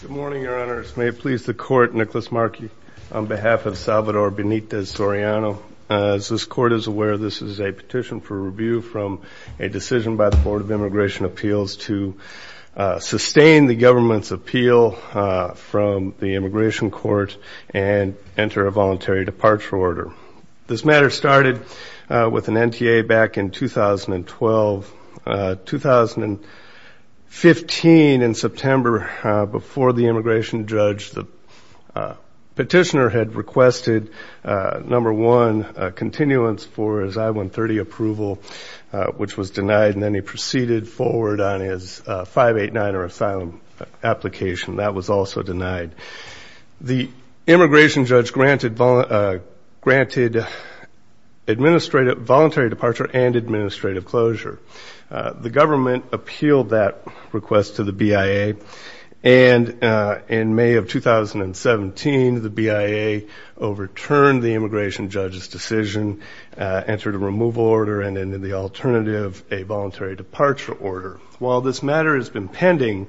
Good morning, Your Honors. May it please the Court, Nicholas Markey, on behalf of Salvador Benitez-Soriano. As this Court is aware, this is a petition for review from a decision by the Board of Immigration Appeals to sustain the government's appeal from the Immigration Court and enter a voluntary departure order. This matter started with an NTA back in 2012. In 2015, in September, before the immigration judge, the petitioner had requested, number one, a continuance for his I-130 approval, which was denied, and then he proceeded forward on his 589 or asylum application. That was also denied. The immigration judge granted voluntary departure and administrative closure. The government appealed that request to the BIA, and in May of 2017, the BIA overturned the immigration judge's decision, entered a removal order, and then, in the alternative, a voluntary departure order. While this matter has been pending,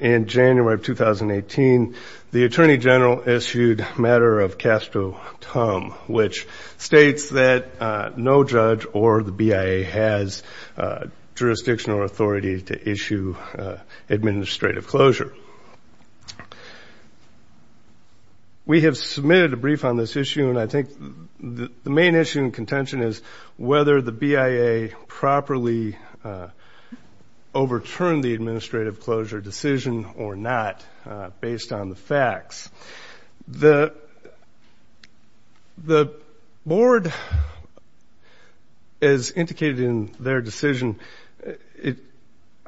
in January of 2018, the Attorney General issued a matter of casto tum, which states that no judge or the BIA has jurisdictional authority to issue administrative closure. We have submitted a brief on this issue, and I think the main issue in contention is whether the BIA properly overturned the administrative closure decision or not, based on the facts. The Board, as indicated in their decision,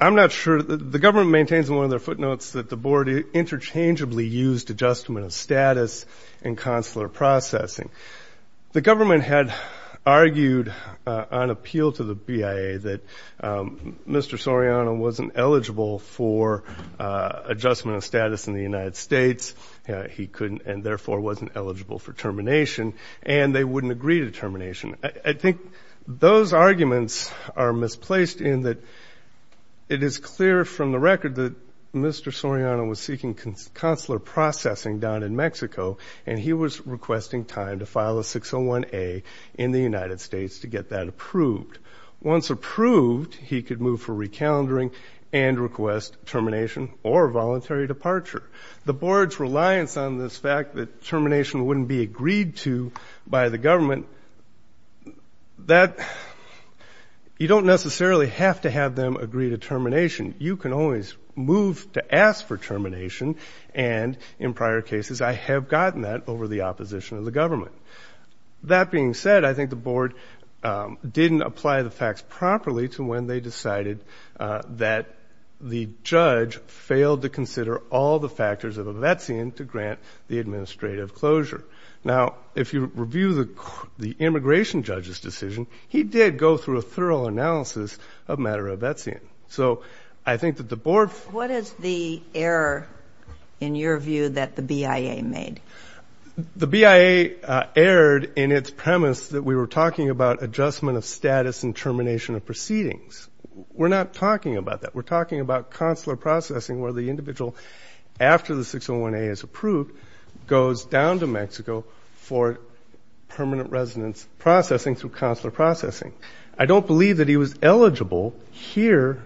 I'm not sure. The government maintains in one of their footnotes that the Board interchangeably used adjustment of status and consular processing. The government had argued on appeal to the BIA that Mr. Soriano wasn't eligible for adjustment of status in the United States. He couldn't and, therefore, wasn't eligible for termination, and they wouldn't agree to termination. I think those arguments are misplaced in that it is clear from the record that Mr. Soriano was seeking consular processing down in Mexico, and he was requesting time to file a 601A in the United States to get that approved. Once approved, he could move for recalendering and request termination or voluntary departure. The Board's reliance on this fact that termination wouldn't be agreed to by the government, you don't necessarily have to have them agree to termination. You can always move to ask for termination, and in prior cases I have gotten that over the opposition of the government. That being said, I think the Board didn't apply the facts properly to when they decided that the judge failed to consider all the factors of a vetsian to grant the administrative closure. Now, if you review the immigration judge's decision, he did go through a thorough analysis of matter of vetsian. So I think that the Board ---- What is the error, in your view, that the BIA made? The BIA erred in its premise that we were talking about adjustment of status and termination of proceedings. We're not talking about that. We're talking about consular processing where the individual, after the 601A is approved, goes down to Mexico for permanent residence processing through consular processing. I don't believe that he was eligible here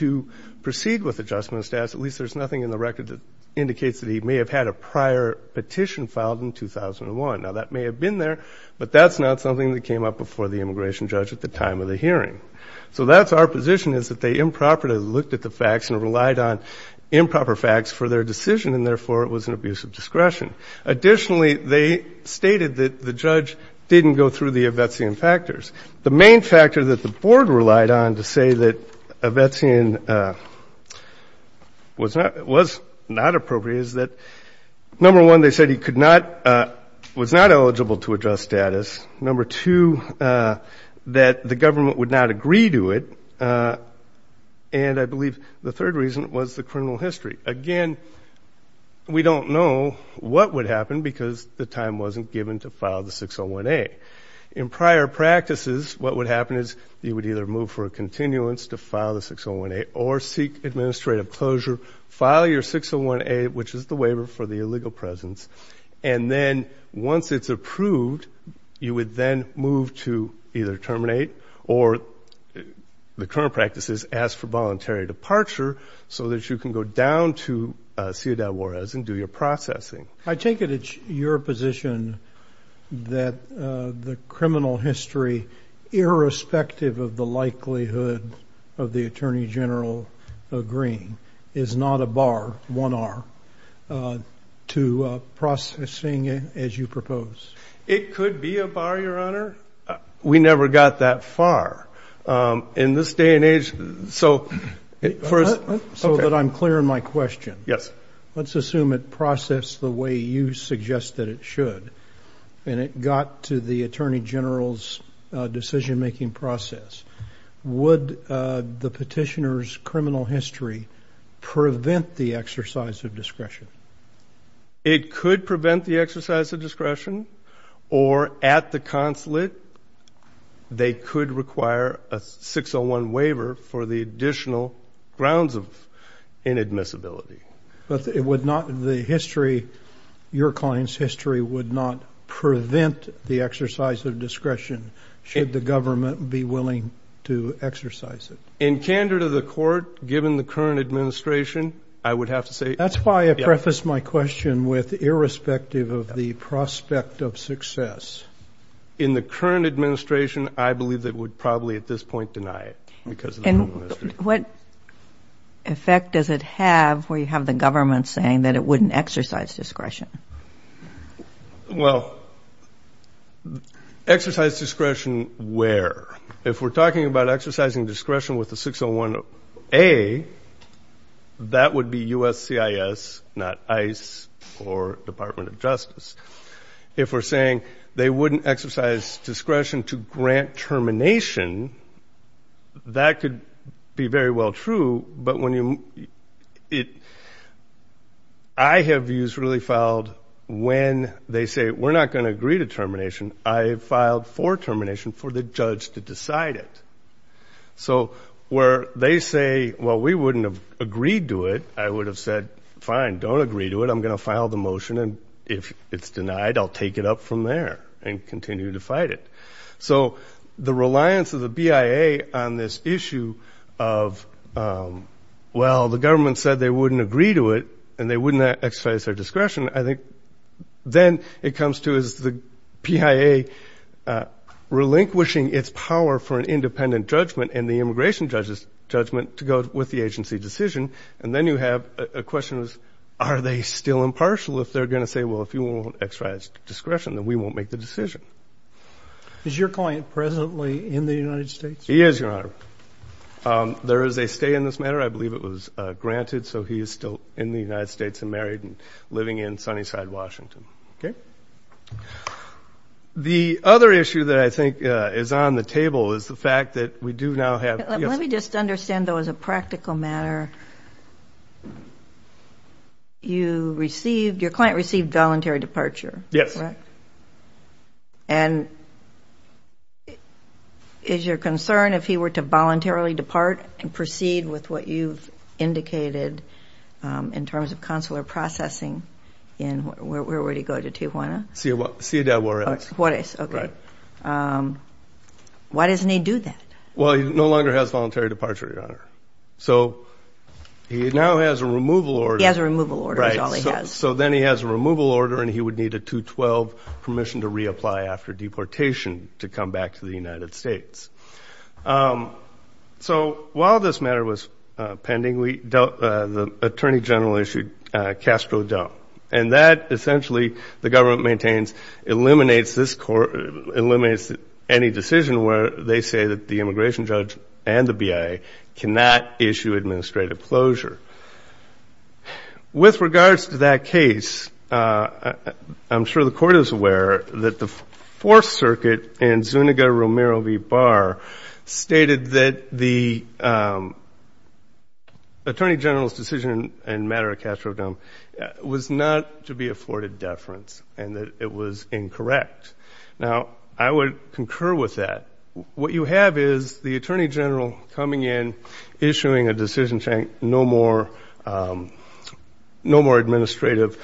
to proceed with adjustment of status. At least there's nothing in the record that indicates that he may have had a prior petition filed in 2001. Now, that may have been there, but that's not something that came up before the immigration judge at the time of the hearing. So that's our position is that they improperly looked at the facts and relied on improper facts for their decision, and therefore it was an abuse of discretion. Additionally, they stated that the judge didn't go through the vetsian factors. The main factor that the Board relied on to say that vetsian was not appropriate is that, number one, they said he could not ---- was not eligible to adjust status. Number two, that the government would not agree to it. And I believe the third reason was the criminal history. Again, we don't know what would happen because the time wasn't given to file the 601A. In prior practices, what would happen is you would either move for a continuance to file the 601A or seek administrative closure, file your 601A, which is the waiver for the illegal presence, and then once it's approved, you would then move to either terminate or the current practices ask for voluntary departure so that you can go down to Ciudad Juarez and do your processing. I take it it's your position that the criminal history, irrespective of the likelihood of the Attorney General agreeing, is not a bar, one R, to processing as you propose? It could be a bar, Your Honor. We never got that far. In this day and age, so for us ---- So that I'm clear in my question. Yes. Let's assume it processed the way you suggested it should, and it got to the Attorney General's decision-making process. Would the petitioner's criminal history prevent the exercise of discretion? It could prevent the exercise of discretion, or at the consulate, they could require a 601 waiver for the additional grounds of inadmissibility. But it would not, the history, your client's history, would not prevent the exercise of discretion, should the government be willing to exercise it? In candor to the Court, given the current administration, I would have to say yes. That's why I prefaced my question with, irrespective of the prospect of success. In the current administration, I believe they would probably at this point deny it because of the criminal history. What effect does it have where you have the government saying that it wouldn't exercise discretion? Well, exercise discretion where? If we're talking about exercising discretion with the 601A, that would be USCIS, not ICE or Department of Justice. If we're saying they wouldn't exercise discretion to grant termination, that could be very well true, but I have views really filed when they say, we're not going to agree to termination. I have filed for termination for the judge to decide it. So where they say, well, we wouldn't have agreed to it, I would have said, fine, don't agree to it. I'm going to file the motion, and if it's denied, I'll take it up from there and continue to fight it. So the reliance of the BIA on this issue of, well, the government said they wouldn't agree to it, and they wouldn't exercise their discretion, I think then it comes to the PIA relinquishing its power for an independent judgment and the immigration judgment to go with the agency decision. And then you have a question of, are they still impartial if they're going to say, well, if you won't exercise discretion, then we won't make the decision? Is your client presently in the United States? He is, Your Honor. There is a stay in this matter. I believe it was granted, so he is still in the United States and married and living in Sunnyside, Washington. Okay? The other issue that I think is on the table is the fact that we do now have ‑‑ your client received voluntary departure, correct? Yes. And is your concern if he were to voluntarily depart and proceed with what you've indicated in terms of consular processing, where would he go, to Tijuana? Ciudad Juarez. Juarez, okay. Right. Why doesn't he do that? Well, he no longer has voluntary departure, Your Honor. So he now has a removal order. He has a removal order is all he has. Right. So then he has a removal order, and he would need a 212 permission to reapply after deportation to come back to the United States. So while this matter was pending, the Attorney General issued Castro Dump. And that essentially, the government maintains, eliminates any decision where they say that the immigration judge and the BIA cannot issue administrative closure. With regards to that case, I'm sure the Court is aware that the Fourth Circuit and Zuniga Romero v. Barr stated that the Attorney General's decision in matter of Castro Dump was not to be afforded deference and that it was incorrect. Now, I would concur with that. What you have is the Attorney General coming in, issuing a decision saying no more administrative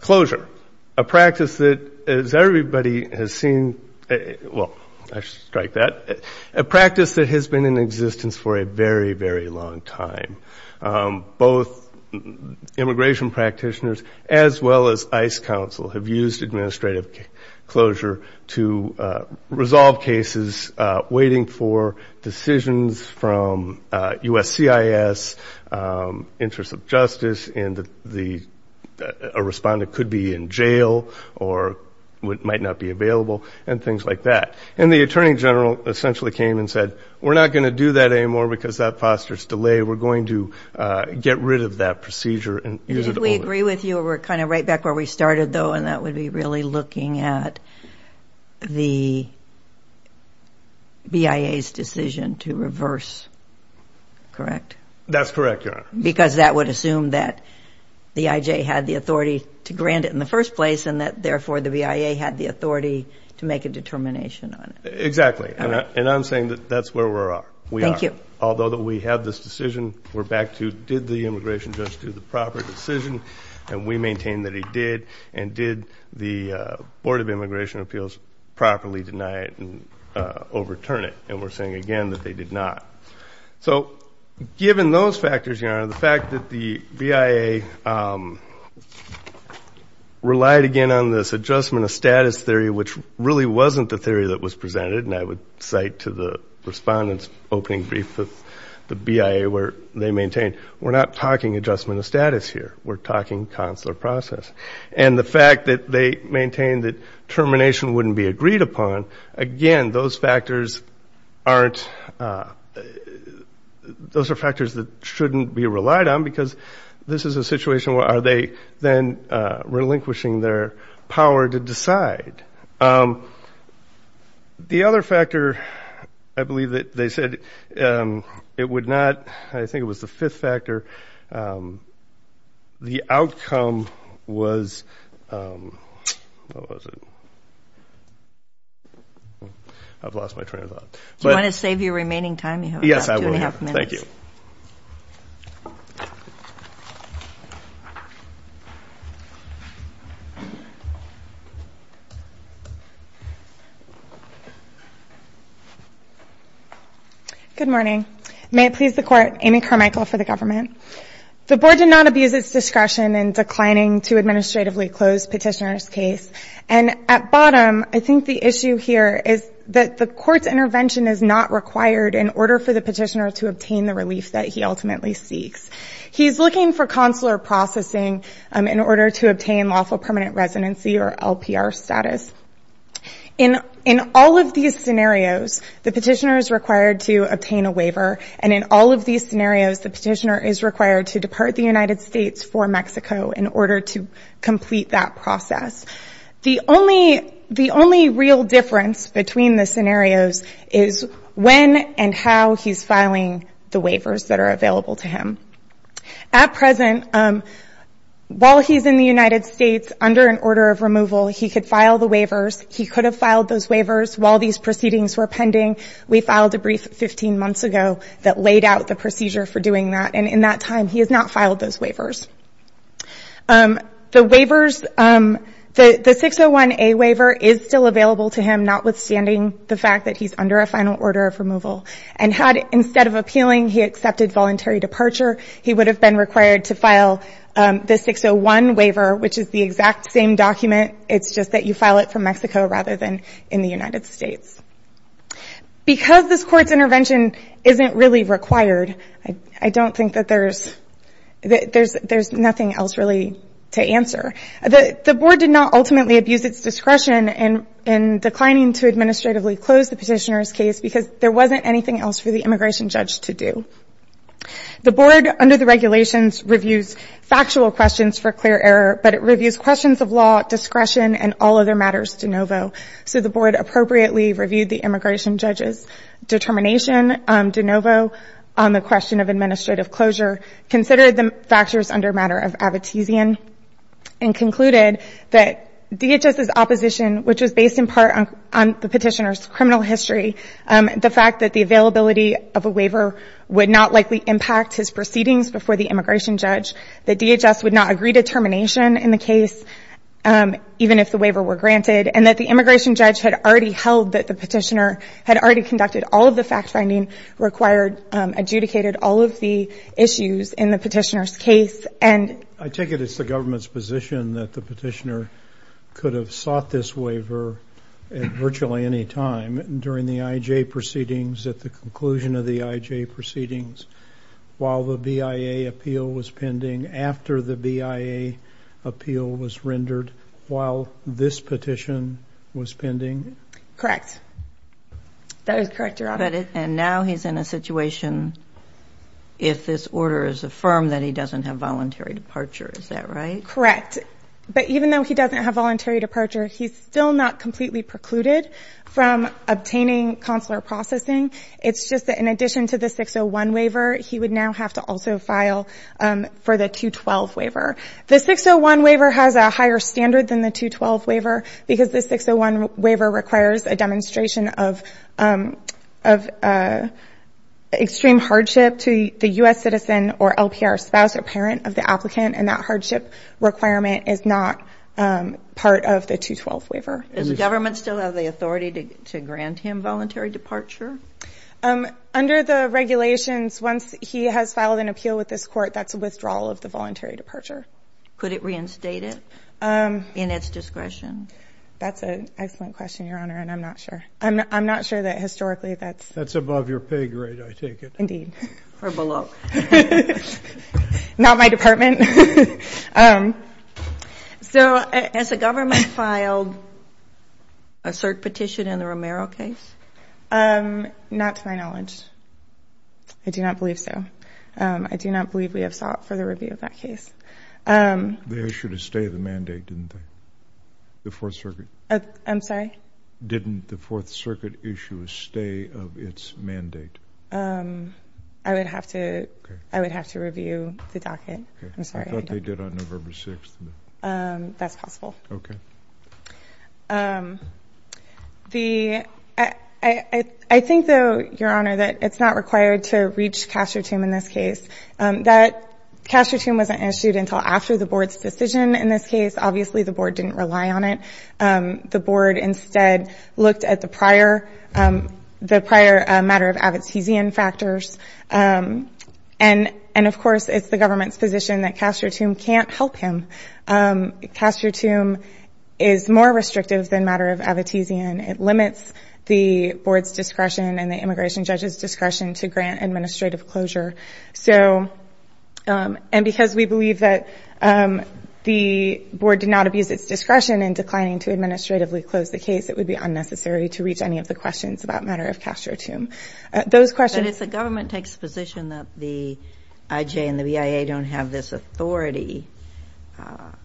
closure, a practice that everybody has seen. Well, I should strike that. A practice that has been in existence for a very, very long time. Both immigration practitioners as well as ICE counsel have used administrative closure to resolve cases, waiting for decisions from USCIS, interests of justice, and a respondent could be in jail or might not be available, and things like that. And the Attorney General essentially came and said, we're not going to do that anymore because that fosters delay. We're going to get rid of that procedure and use it only. Did we agree with you? We're kind of right back where we started, though, and that would be really looking at the BIA's decision to reverse, correct? That's correct, Your Honor. Because that would assume that the IJ had the authority to grant it in the first place and that, therefore, the BIA had the authority to make a determination on it. Exactly. And I'm saying that that's where we are. Thank you. Although we have this decision, we're back to, did the immigration judge do the proper decision? And we maintain that he did, and did the Board of Immigration Appeals properly deny it and overturn it? And we're saying, again, that they did not. So given those factors, Your Honor, the fact that the BIA relied, again, on this adjustment of status theory, which really wasn't the theory that was presented, and I would cite to the Respondent's opening brief of the BIA where they maintained, we're not talking adjustment of status here, we're talking consular process. And the fact that they maintained that termination wouldn't be agreed upon, again, those factors aren't, those are factors that shouldn't be relied on because this is a situation where are they then relinquishing their power to decide. The other factor, I believe that they said it would not, I think it was the fifth factor, the outcome was, what was it? I've lost my train of thought. Do you want to save your remaining time? Yes, I will. Two and a half minutes. Thank you. Good morning. May it please the Court, Amy Carmichael for the government. The Board did not abuse its discretion in declining to administratively close Petitioner's case. And at bottom, I think the issue here is that the Court's intervention is not required in order for the Petitioner to obtain the relief that he ultimately seeks. He's looking for consular processing in order to obtain lawful permanent residency or LPR status. In all of these scenarios, the Petitioner is required to obtain a waiver. And in all of these scenarios, the Petitioner is required to depart the United States for Mexico in order to complete that process. The only real difference between the scenarios is when and how he's filing the waivers that are available to him. At present, while he's in the United States under an order of removal, he could file the waivers. He could have filed those waivers while these proceedings were pending. We filed a brief 15 months ago that laid out the procedure for doing that. The waivers, the 601A waiver is still available to him, notwithstanding the fact that he's under a final order of removal. And had, instead of appealing, he accepted voluntary departure, he would have been required to file the 601 waiver, which is the exact same document. It's just that you file it for Mexico rather than in the United States. Because this Court's intervention isn't really required, I don't think that there's nothing else really to answer. The Board did not ultimately abuse its discretion in declining to administratively close the Petitioner's case because there wasn't anything else for the immigration judge to do. The Board, under the regulations, reviews factual questions for clear error, but it reviews questions of law, discretion, and all other matters de novo. So the Board appropriately reviewed the immigration judge's determination de novo on the question of administrative closure, considered the factors under a matter of abetezian, and concluded that DHS's opposition, which was based in part on the Petitioner's criminal history, the fact that the availability of a waiver would not likely impact his proceedings before the immigration judge, that DHS would not agree to termination in the case, even if the waiver were granted, and that the immigration judge had already held that the Petitioner had already conducted all of the fact-finding required adjudicated all of the issues in the Petitioner's case. I take it it's the government's position that the Petitioner could have sought this waiver at virtually any time, during the IJ proceedings, at the conclusion of the IJ proceedings, while the BIA appeal was pending, after the BIA appeal was rendered, while this petition was pending? Correct. That is correct, Your Honor. And now he's in a situation, if this order is affirmed, that he doesn't have voluntary departure. Is that right? Correct. But even though he doesn't have voluntary departure, he's still not completely precluded from obtaining consular processing. It's just that in addition to the 601 waiver, he would now have to also file for the 212 waiver. The 601 waiver has a higher standard than the 212 waiver because the 601 waiver requires a demonstration of extreme hardship to the U.S. citizen or LPR spouse or parent of the applicant, and that hardship requirement is not part of the 212 waiver. Does the government still have the authority to grant him voluntary departure? Under the regulations, once he has filed an appeal with this Court, that's a withdrawal of the voluntary departure. Could it reinstate it in its discretion? That's an excellent question, Your Honor, and I'm not sure. I'm not sure that historically that's ---- That's above your pay grade, I take it. Indeed. Or below. Not my department. So has the government filed a cert petition in the Romero case? Not to my knowledge. I do not believe so. I do not believe we have sought further review of that case. They issued a stay of the mandate, didn't they, the Fourth Circuit? I'm sorry? Didn't the Fourth Circuit issue a stay of its mandate? I would have to review the docket. I'm sorry. I thought they did on November 6th. That's possible. Okay. I think, though, Your Honor, that it's not required to reach Castro Team in this case. Castro Team wasn't issued until after the Board's decision in this case. Obviously, the Board didn't rely on it. The Board instead looked at the prior matter of abstenteeism factors, and, of course, it's the government's position that Castro Team can't help him. Castro Team is more restrictive than matter of abstenteeism. It limits the Board's discretion and the immigration judge's discretion to grant administrative closure. And because we believe that the Board did not abuse its discretion in declining to administratively close the case, it would be unnecessary to reach any of the questions about matter of Castro Team. Those questions. But if the government takes the position that the IJ and the BIA don't have this authority, are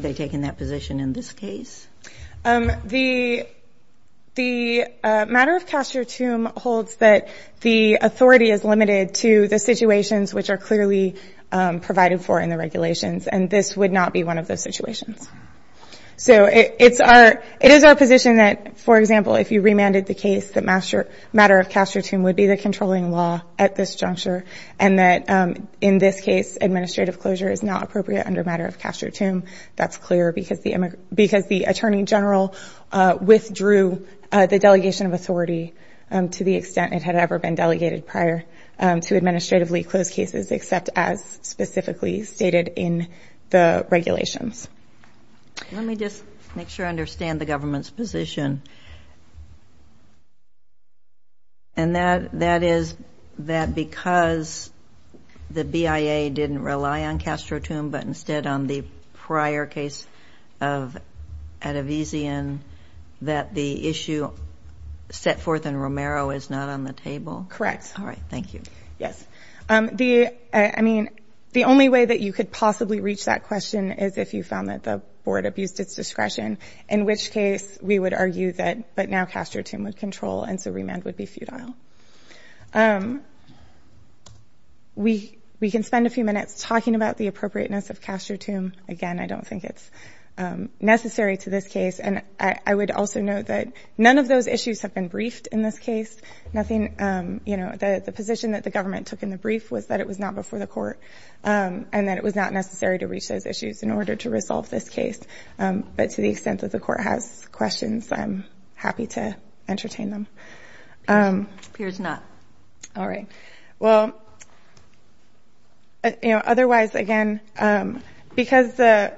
they taking that position in this case? The matter of Castro Team holds that the authority is limited to the situations which are clearly provided for in the regulations, and this would not be one of those situations. So it is our position that, for example, if you remanded the case that matter of Castro Team would be the controlling law at this juncture and that in this case administrative closure is not appropriate under matter of Castro Team, that's clear because the Attorney General withdrew the delegation of authority to the extent it had ever been delegated prior to administratively close cases except as specifically stated in the regulations. Let me just make sure I understand the government's position. And that is that because the BIA didn't rely on Castro Team but instead on the prior case of Adivisian, that the issue set forth in Romero is not on the table? Correct. All right. Thank you. Yes. I mean, the only way that you could possibly reach that question is if you found that the board abused its discretion, in which case we would argue that but now Castro Team would control and so remand would be futile. We can spend a few minutes talking about the appropriateness of Castro Team. Again, I don't think it's necessary to this case. And I would also note that none of those issues have been briefed in this case. The position that the government took in the brief was that it was not before the court and that it was not necessary to reach those issues in order to resolve this case. But to the extent that the court has questions, I'm happy to entertain them. It appears not. All right. Well, otherwise, again, because the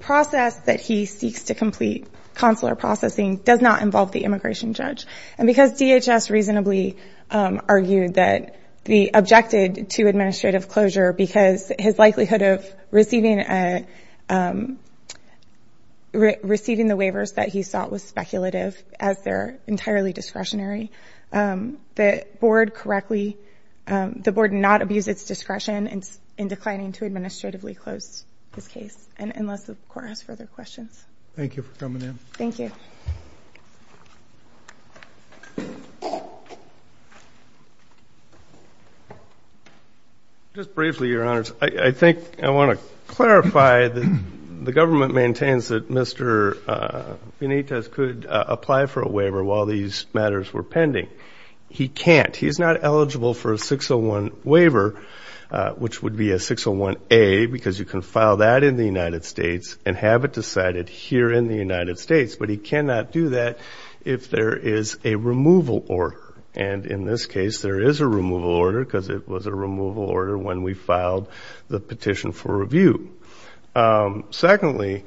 process that he seeks to complete, consular processing, does not involve the immigration judge. And because DHS reasonably objected to administrative closure because his likelihood of receiving the waivers that he sought was speculative as they're entirely discretionary, the board not abused its discretion in declining to administratively close this case, unless the court has further questions. Thank you for coming in. Thank you. Thank you. Just briefly, Your Honors, I think I want to clarify that the government maintains that Mr. Benitez could apply for a waiver while these matters were pending. He can't. He's not eligible for a 601 waiver, which would be a 601A, because you can file that in the United States and have it decided here in the United States. But he cannot do that if there is a removal order. And in this case, there is a removal order because it was a removal order when we filed the petition for review. Secondly,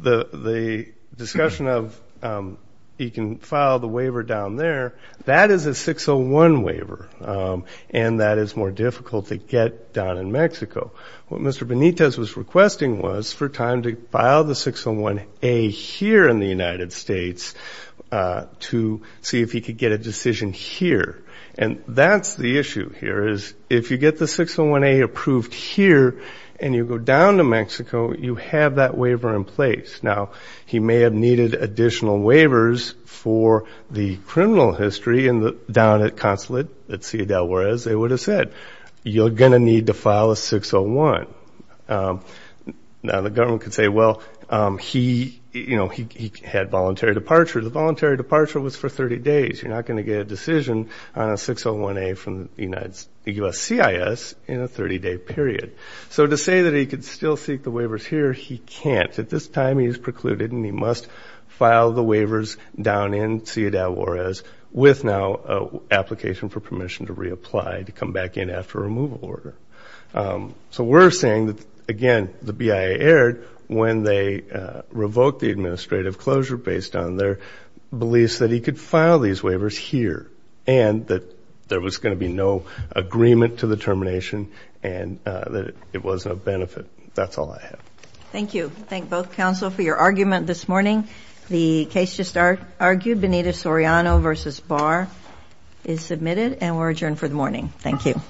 the discussion of he can file the waiver down there, that is a 601 waiver, and that is more difficult to get down in Mexico. What Mr. Benitez was requesting was for time to file the 601A here in the United States to see if he could get a decision here. And that's the issue here is if you get the 601A approved here and you go down to Mexico, you have that waiver in place. Now, he may have needed additional waivers for the criminal history down at Consulate, at Ciudad Juarez. They would have said, you're going to need to file a 601. Now, the government could say, well, he had voluntary departure. The voluntary departure was for 30 days. You're not going to get a decision on a 601A from the U.S. CIS in a 30-day period. So to say that he could still seek the waivers here, he can't. At this time, he's precluded and he must file the waivers down in Ciudad Juarez with now an application for permission to reapply to come back in after a removal order. So we're saying that, again, the BIA erred when they revoked the administrative closure based on their beliefs that he could file these waivers here and that there was going to be no agreement to the termination and that it was of no benefit. That's all I have. Thank you. Thank both counsel for your argument this morning. The case just argued, Benito Soriano v. Barr, is submitted and we're adjourned for the morning. Thank you.